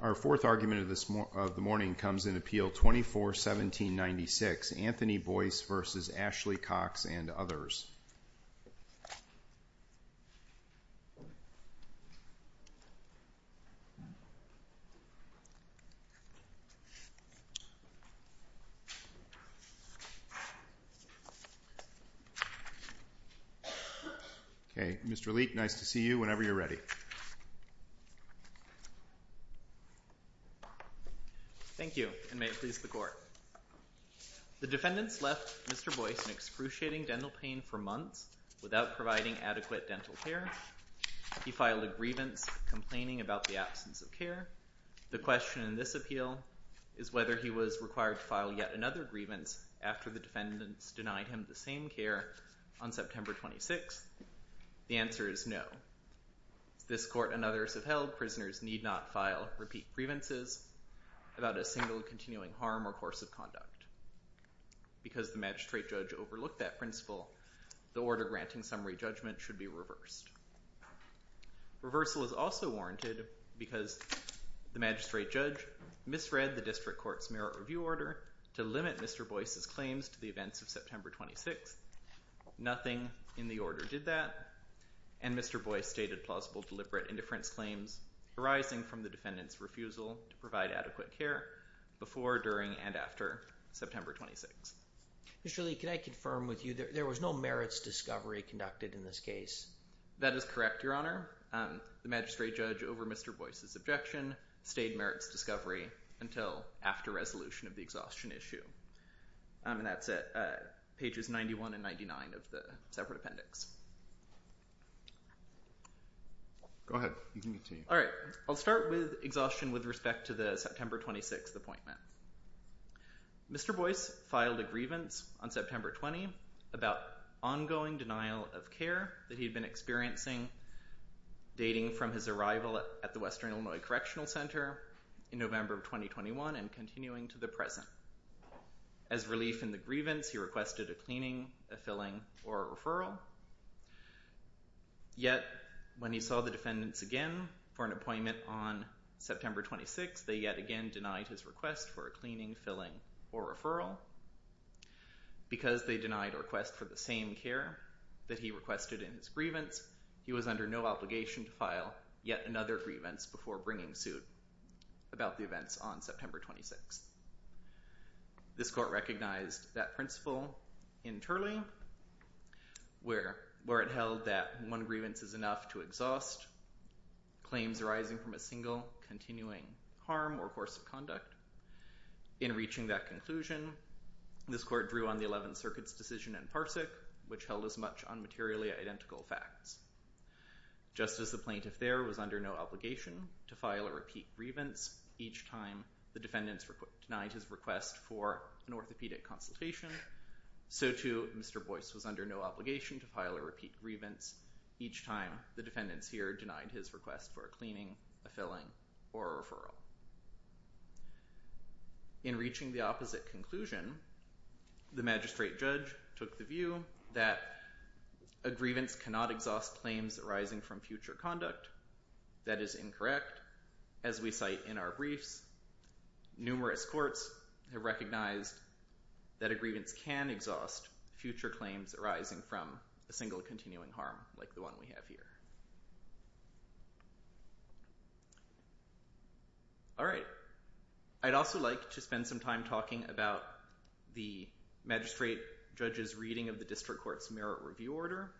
Our fourth argument of the morning comes in Appeal 24-1796, Anthony Boyce v. Ashley Cox and others. The defendants left Mr. Boyce in excruciating dental pain for months without providing adequate dental care. He filed a grievance complaining about the absence of care. The question in this appeal is whether he was required to file yet another grievance after the defendants denied him the same care on September 26th. The answer is no. This court and others have held prisoners need not file repeat grievances about a single continuing harm or course of conduct. Because the magistrate judge overlooked that principle, the order granting summary judgment should be reversed. Reversal is also warranted because the magistrate judge misread the district court's merit review order to limit Mr. Boyce's claims to the events of September 26th. Nothing in the order did that, and Mr. Boyce stated plausible deliberate indifference claims arising from the defendant's refusal to provide adequate care before, during, and after September 26th. Mr. Lee, can I confirm with you that there was no merits discovery conducted in this case? That is correct, Your Honor. The magistrate judge, over Mr. Boyce's objection, stayed merits discovery until after resolution of the exhaustion issue. And that's it. Pages 91 and 99 of the separate appendix. Go ahead. You can continue. All right. I'll start with exhaustion with respect to the September 26th appointment. Mr. Boyce filed a grievance on September 20 about ongoing denial of care that he had been experiencing dating from his arrival at the Western Illinois Correctional Center in November of 2021 and continuing to the present. As relief in the grievance, he requested a cleaning, a filling, or a referral. Yet, when he saw the defendants again for an appointment on September 26, they yet again denied his request for a cleaning, filling, or referral. Because they denied a request for the same care that he requested in his grievance, he was under no obligation to file yet another grievance before bringing suit about the events on September 26th. This court recognized that principle internally, where it held that one grievance is enough to exhaust claims arising from a single continuing harm or course of conduct. In reaching that conclusion, this court drew on the Eleventh Circuit's decision in Parsic, which held as much on materially identical facts. Just as the plaintiff there was under no obligation to file a repeat grievance each time the defendants denied his request for an orthopedic consultation, so too Mr. Boyce was under no obligation to file a repeat grievance each time the defendants here denied his request for a cleaning, a filling, or a referral. In reaching the opposite conclusion, the magistrate judge took the view that a grievance cannot exhaust claims arising from future conduct. That is incorrect. As we cite in our briefs, numerous courts have recognized that a grievance can exhaust future claims arising from a single continuing harm, like the one we have here. I'd also like to spend some time talking about the magistrate judge's reading of the District Court's Merit Review Order.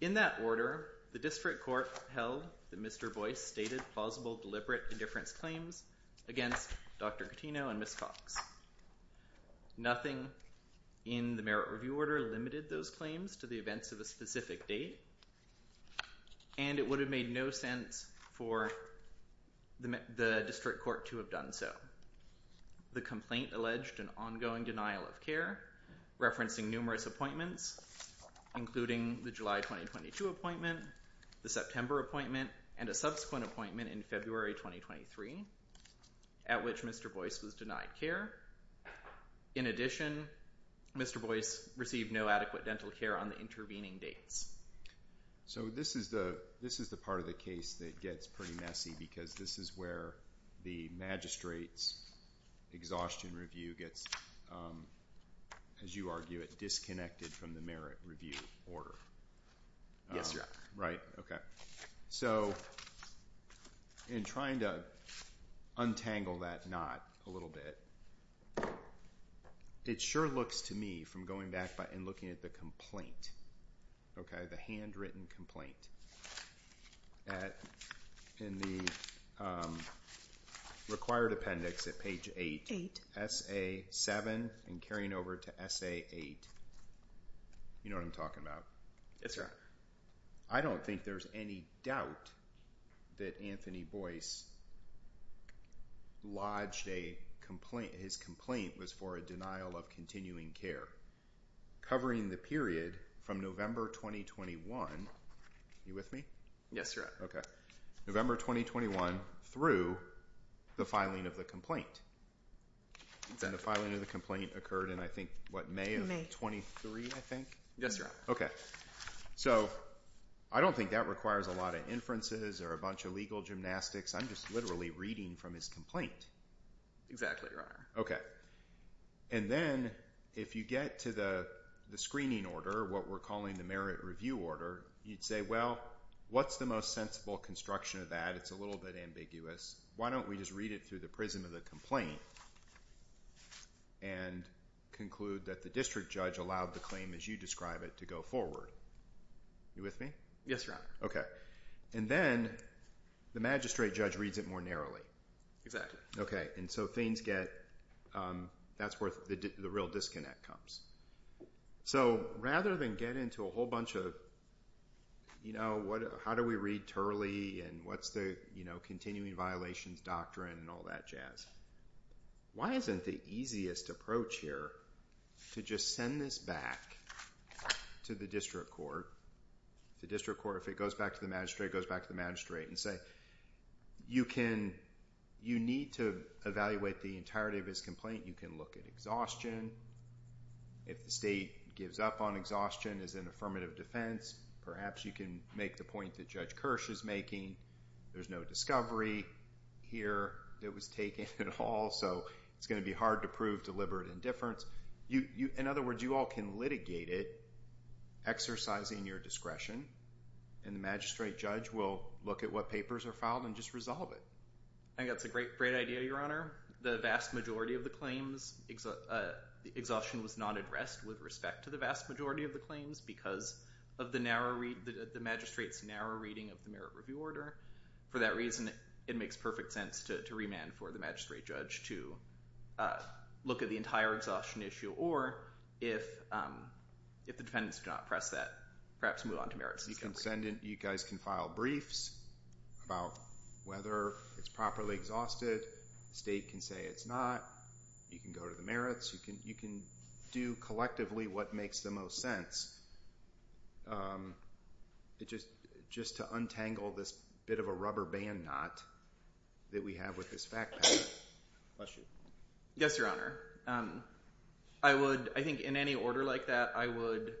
In that order, the District Court held that Mr. Boyce stated plausible deliberate indifference claims against Dr. Cattino and Ms. Cox. Nothing in the Merit Review Order limited those claims to the events of a specific date, and it would have made no sense for the District Court to have done so. The complaint alleged an ongoing denial of care, referencing numerous appointments, including the July 2022 appointment, the September appointment, and a subsequent appointment in February 2023, at which Mr. Boyce was denied care. In addition, Mr. Boyce received no adequate dental care on the intervening dates. So this is the part of the case that gets pretty messy, because this is where the magistrate's exhaustion review gets, as you argue, disconnected from the Merit Review Order. Yes, Your Honor. So, in trying to untangle that knot a little bit, it sure looks to me, from going back and looking at the complaint, the handwritten complaint, that in the required appendix at page 8, S.A. 7, and carrying over to S.A. 8, you know what I'm talking about. Yes, Your Honor. I don't think there's any doubt that Anthony Boyce lodged a complaint, his complaint was for a denial of continuing care, covering the period from November 2021. Are you with me? Yes, Your Honor. November 2021 through the filing of the complaint. The filing of the complaint occurred in, I think, what, May of 23, I think? Yes, Your Honor. Okay. So, I don't think that requires a lot of inferences or a bunch of legal gymnastics. I'm just literally reading from his complaint. Exactly, Your Honor. Okay. And then, if you get to the screening order, what we're calling the Merit Review Order, you'd say, well, what's the most sensible construction of that? It's a little bit ambiguous. Why don't we just read it through the prism of the complaint and conclude that the district judge allowed the claim, as you describe it, to go forward. Are you with me? Yes, Your Honor. Okay. And then, the magistrate judge reads it more narrowly. Exactly. Okay. And so, things get, that's where the real disconnect comes. So, rather than get into a whole bunch of, you know, how do we read Turley and what's the, you know, continuing violations doctrine and all that jazz, why isn't the easiest approach here to just send this back to the district court? The district court, if it goes back to the magistrate, goes back to the magistrate and say, you need to evaluate the entirety of his complaint. You can look at exhaustion. If the state gives up on exhaustion as an affirmative defense, perhaps you can make the point that Judge Kirsch is making. There's no discovery here that was taken at all, so it's going to be hard to prove deliberate indifference. In other words, you all can litigate it, exercising your discretion, and the magistrate judge will look at what papers are filed and just resolve it. I think that's a great idea, Your Honor. The vast majority of the claims, exhaustion was not addressed with respect to the vast majority of the claims because of the magistrate's narrow reading of the merit review order. For that reason, it makes perfect sense to remand for the magistrate judge to look at the entire exhaustion issue, or if the defendants do not press that, perhaps move on to merit system review. Your Excellency, you guys can file briefs about whether it's properly exhausted. The state can say it's not. You can go to the merits. You can do collectively what makes the most sense just to untangle this bit of a rubber band knot that we have with this fact pattern. Yes, Your Honor. I think in any order like that, I would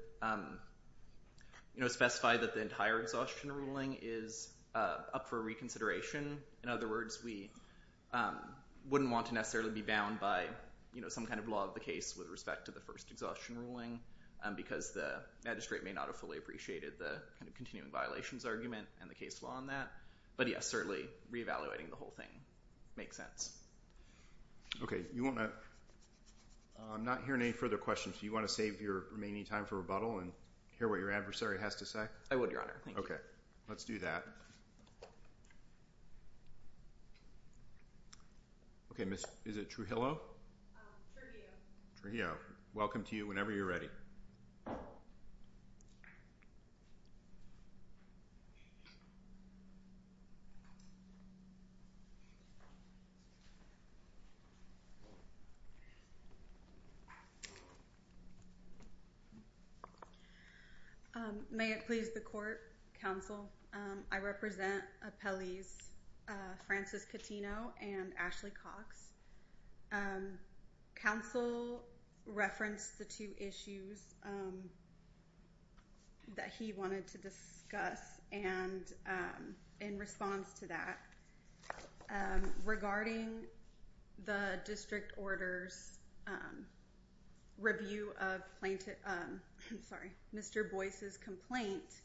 specify that the entire exhaustion ruling is up for reconsideration. In other words, we wouldn't want to necessarily be bound by some kind of law of the case with respect to the first exhaustion ruling because the magistrate may not have fully appreciated the continuing violations argument and the case law on that. But, yes, certainly re-evaluating the whole thing makes sense. Okay. I'm not hearing any further questions. Do you want to save your remaining time for rebuttal and hear what your adversary has to say? I would, Your Honor. Thank you. Okay. Let's do that. Okay. Is it Trujillo? Trujillo. Trujillo. Welcome to you whenever you're ready. May it please the court, counsel. I represent appellees Francis Catino and Ashley Cox. Counsel referenced the two issues that he wanted to discuss and in response to that, regarding the district order's review of Mr. Boyce's complaint,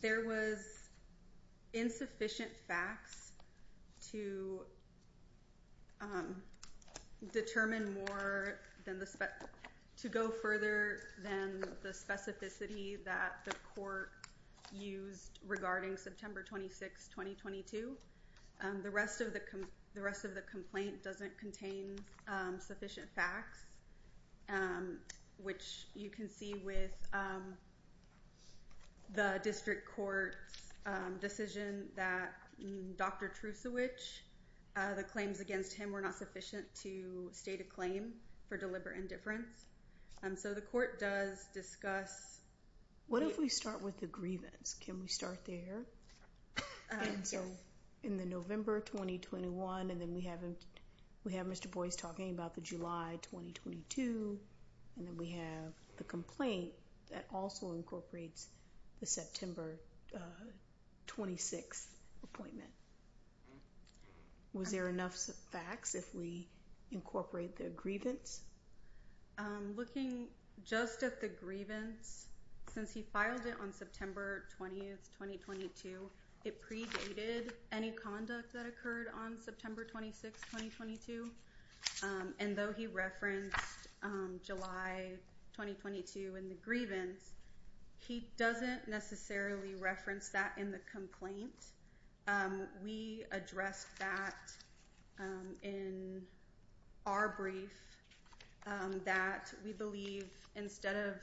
there was insufficient facts to go further than the specificity that the court used regarding September 26, 2022. The rest of the complaint doesn't contain sufficient facts, which you can see with the district court's decision that Dr. Trusovich, the claims against him were not sufficient to state a claim for deliberate indifference. So the court does discuss… What if we start with the grievance? Can we start there? So in the November 2021, and then we have Mr. Boyce talking about the July 2022, and then we have the complaint that also incorporates the September 26 appointment. Was there enough facts if we incorporate the grievance? Looking just at the grievance, since he filed it on September 20, 2022, it predated any conduct that occurred on September 26, 2022, and though he referenced July 2022 in the grievance, he doesn't necessarily reference that in the complaint. We addressed that in our brief that we believe instead of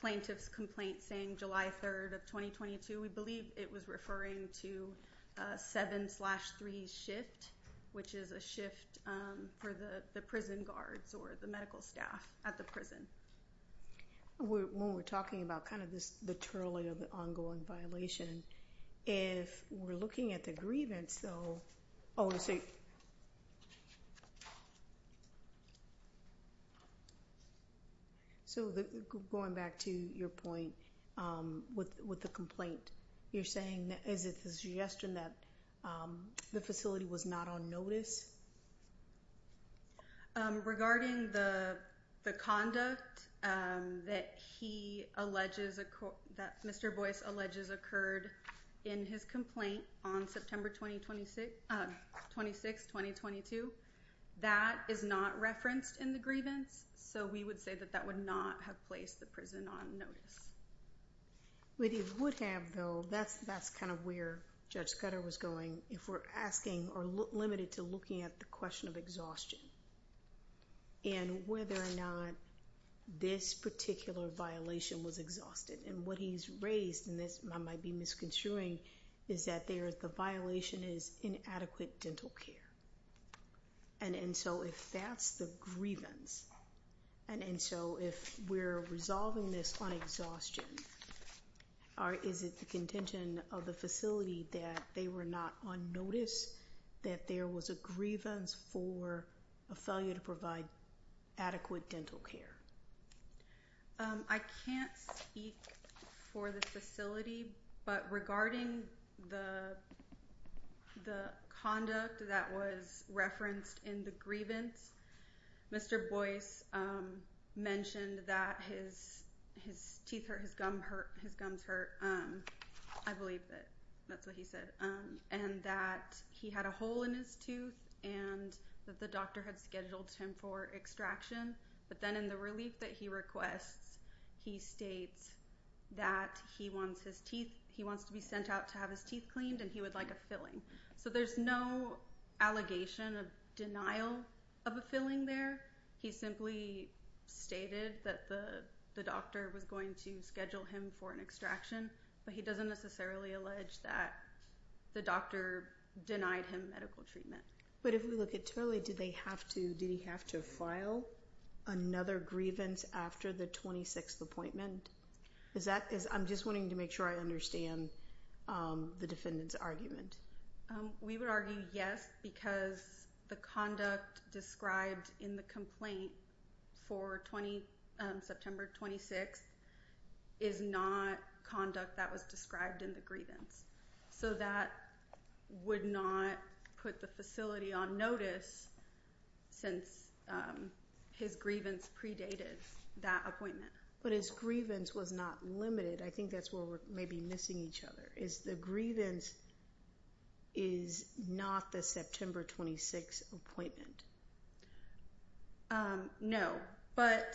plaintiff's complaint saying July 3, 2022, we believe it was referring to 7-3 shift, which is a shift for the prison guards or the medical staff at the prison. When we're talking about kind of the trailing of the ongoing violation, if we're looking at the grievance, though… So going back to your point with the complaint, you're saying that it's a suggestion that the facility was not on notice? Regarding the conduct that Mr. Boyce alleges occurred in his complaint on September 26, 2022, that is not referenced in the grievance, so we would say that that would not have placed the prison on notice. We would have, though. That's kind of where Judge Cutter was going. If we're asking or limited to looking at the question of exhaustion and whether or not this particular violation was exhausted, and what he's raised, and this might be misconstruing, is that the violation is inadequate dental care. And so if that's the grievance, and so if we're resolving this on exhaustion, is it the contention of the facility that they were not on notice, that there was a grievance for a failure to provide adequate dental care? I can't speak for the facility, but regarding the conduct that was referenced in the grievance, Mr. Boyce mentioned that his teeth hurt, his gums hurt. I believe that that's what he said. And that he had a hole in his tooth, and that the doctor had scheduled him for extraction. But then in the relief that he requests, he states that he wants to be sent out to have his teeth cleaned, and he would like a filling. So there's no allegation of denial of a filling there. He simply stated that the doctor was going to schedule him for an extraction, but he doesn't necessarily allege that the doctor denied him medical treatment. But if we look at totally, did he have to file another grievance after the 26th appointment? I'm just wanting to make sure I understand the defendant's argument. We would argue yes, because the conduct described in the complaint for September 26th is not conduct that was described in the grievance. So that would not put the facility on notice since his grievance predated that appointment. But his grievance was not limited. I think that's where we're maybe missing each other, is the grievance is not the September 26th appointment. No, but.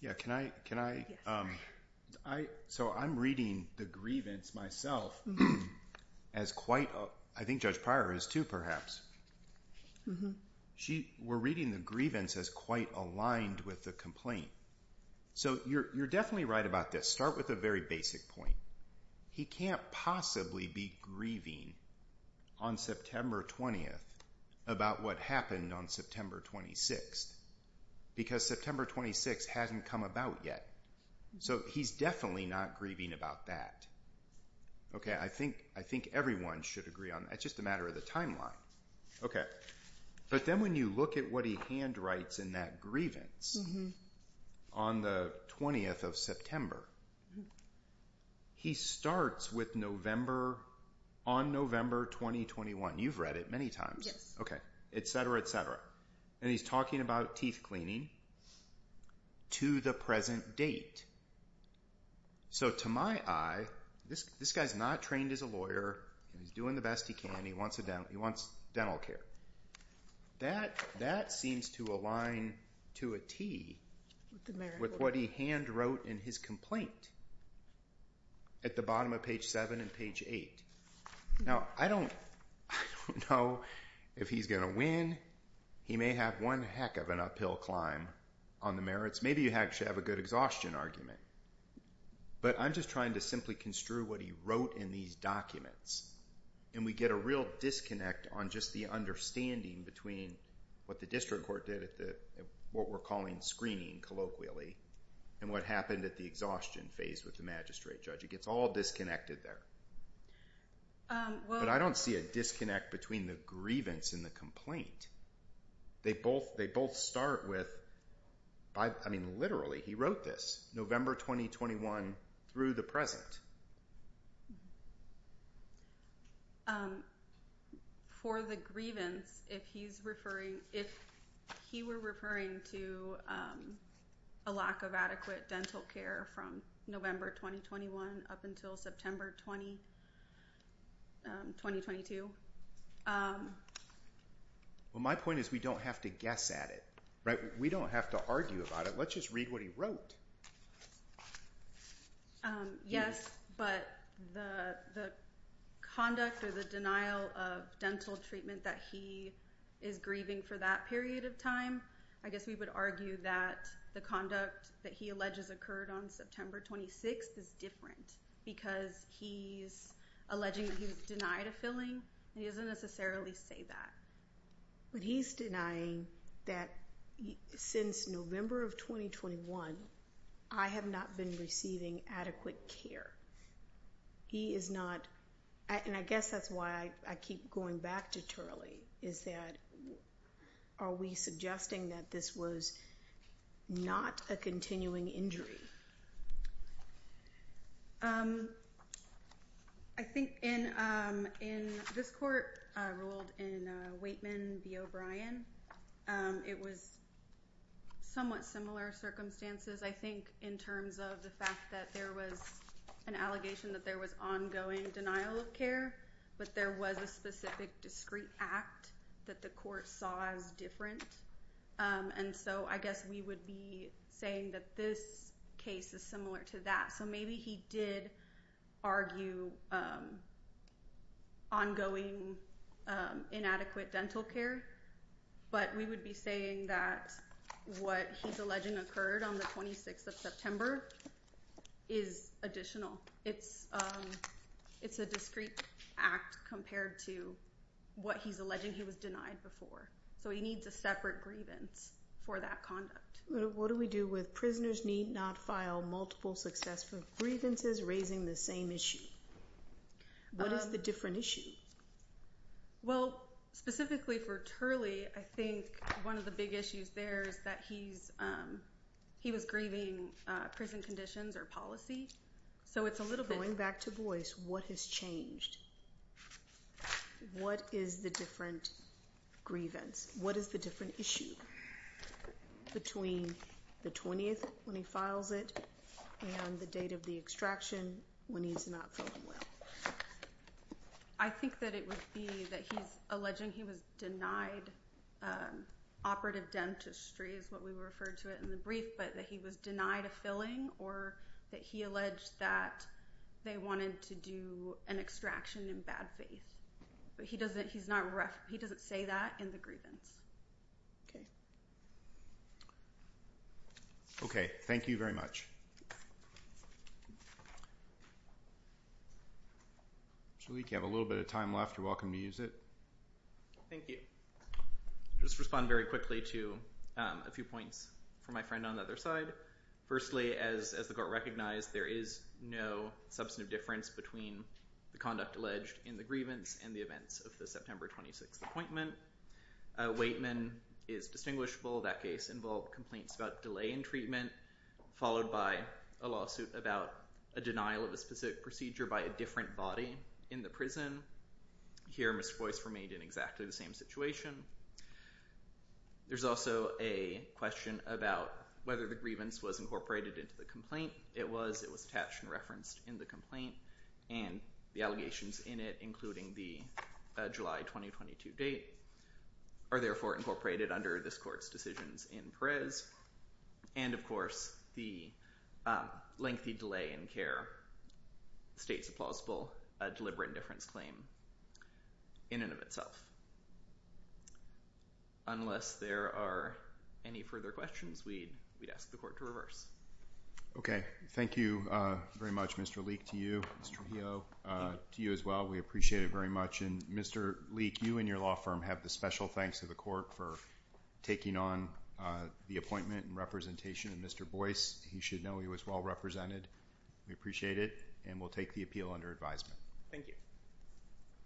Yeah, can I? So I'm reading the grievance myself as quite, I think Judge Pryor is too, perhaps. She, we're reading the grievance as quite aligned with the complaint. So you're definitely right about this. Start with a very basic point. He can't possibly be grieving on September 20th about what happened on September 26th because September 26th hasn't come about yet. So he's definitely not grieving about that. Okay, I think everyone should agree on that. It's just a matter of the timeline. Okay. But then when you look at what he handwrites in that grievance on the 20th of September, he starts with November, on November 2021. You've read it many times. Yes. Okay, et cetera, et cetera. And he's talking about teeth cleaning to the present date. So to my eye, this guy's not trained as a lawyer. He's doing the best he can. He wants dental care. That seems to align to a tee with what he handwrote in his complaint at the bottom of page 7 and page 8. Now, I don't know if he's going to win. He may have one heck of an uphill climb on the merits. Maybe you actually have a good exhaustion argument. But I'm just trying to simply construe what he wrote in these documents, and we get a real disconnect on just the understanding between what the district court did, what we're calling screening colloquially, and what happened at the exhaustion phase with the magistrate judge. It gets all disconnected there. But I don't see a disconnect between the grievance and the complaint. They both start with, I mean, literally, he wrote this November 2021 through the present. For the grievance, if he were referring to a lack of adequate dental care from November 2021 up until September 2022. Well, my point is we don't have to guess at it, right? We don't have to argue about it. Let's just read what he wrote. Yes, but the conduct or the denial of dental treatment that he is grieving for that period of time, I guess we would argue that the conduct that he alleges occurred on September 26th is different because he's alleging that he was denied a filling. He doesn't necessarily say that. But he's denying that since November of 2021, I have not been receiving adequate care. He is not, and I guess that's why I keep going back to Turley, is that are we suggesting that this was not a continuing injury? I think in this court ruled in Waitman v. O'Brien, it was somewhat similar circumstances, I think, in terms of the fact that there was an allegation that there was ongoing denial of care, but there was a specific discrete act that the court saw as different. And so I guess we would be saying that this case is similar to that. So maybe he did argue ongoing inadequate dental care, but we would be saying that what he's alleging occurred on the 26th of September is additional. It's a discrete act compared to what he's alleging he was denied before. So he needs a separate grievance for that conduct. What do we do with prisoners need not file multiple successful grievances raising the same issue? What is the different issue? Well, specifically for Turley, I think one of the big issues there is that he was grieving prison conditions or policy. Going back to Boyce, what has changed? What is the different grievance? What is the different issue between the 20th when he files it and the date of the extraction when he's not feeling well? I think that it would be that he's alleging he was denied operative dentistry is what we referred to it in the brief, but that he was denied a filling or that he alleged that they wanted to do an extraction in bad faith. But he doesn't say that in the grievance. Okay, thank you very much. So we have a little bit of time left. You're welcome to use it. Thank you. I'll just respond very quickly to a few points from my friend on the other side. Firstly, as the court recognized, there is no substantive difference between the conduct alleged in the grievance and the events of the September 26th appointment. Waitman is distinguishable. That case involved complaints about delay in treatment, followed by a lawsuit about a denial of a specific procedure by a different body in the prison. Here, Mr. Boyce remained in exactly the same situation. There's also a question about whether the grievance was incorporated into the complaint. It was. It was attached and referenced in the complaint, and the allegations in it, including the July 2022 date, are therefore incorporated under this court's decisions in Perez. And, of course, the lengthy delay in care states a plausible deliberate indifference claim in and of itself. Unless there are any further questions, we'd ask the court to reverse. Okay. Thank you very much, Mr. Leek, to you, Mr. Heo, to you as well. We appreciate it very much. And, Mr. Leek, you and your law firm have the special thanks to the court for taking on the appointment and representation of Mr. Boyce. You should know he was well represented. We appreciate it, and we'll take the appeal under advisement. Thank you.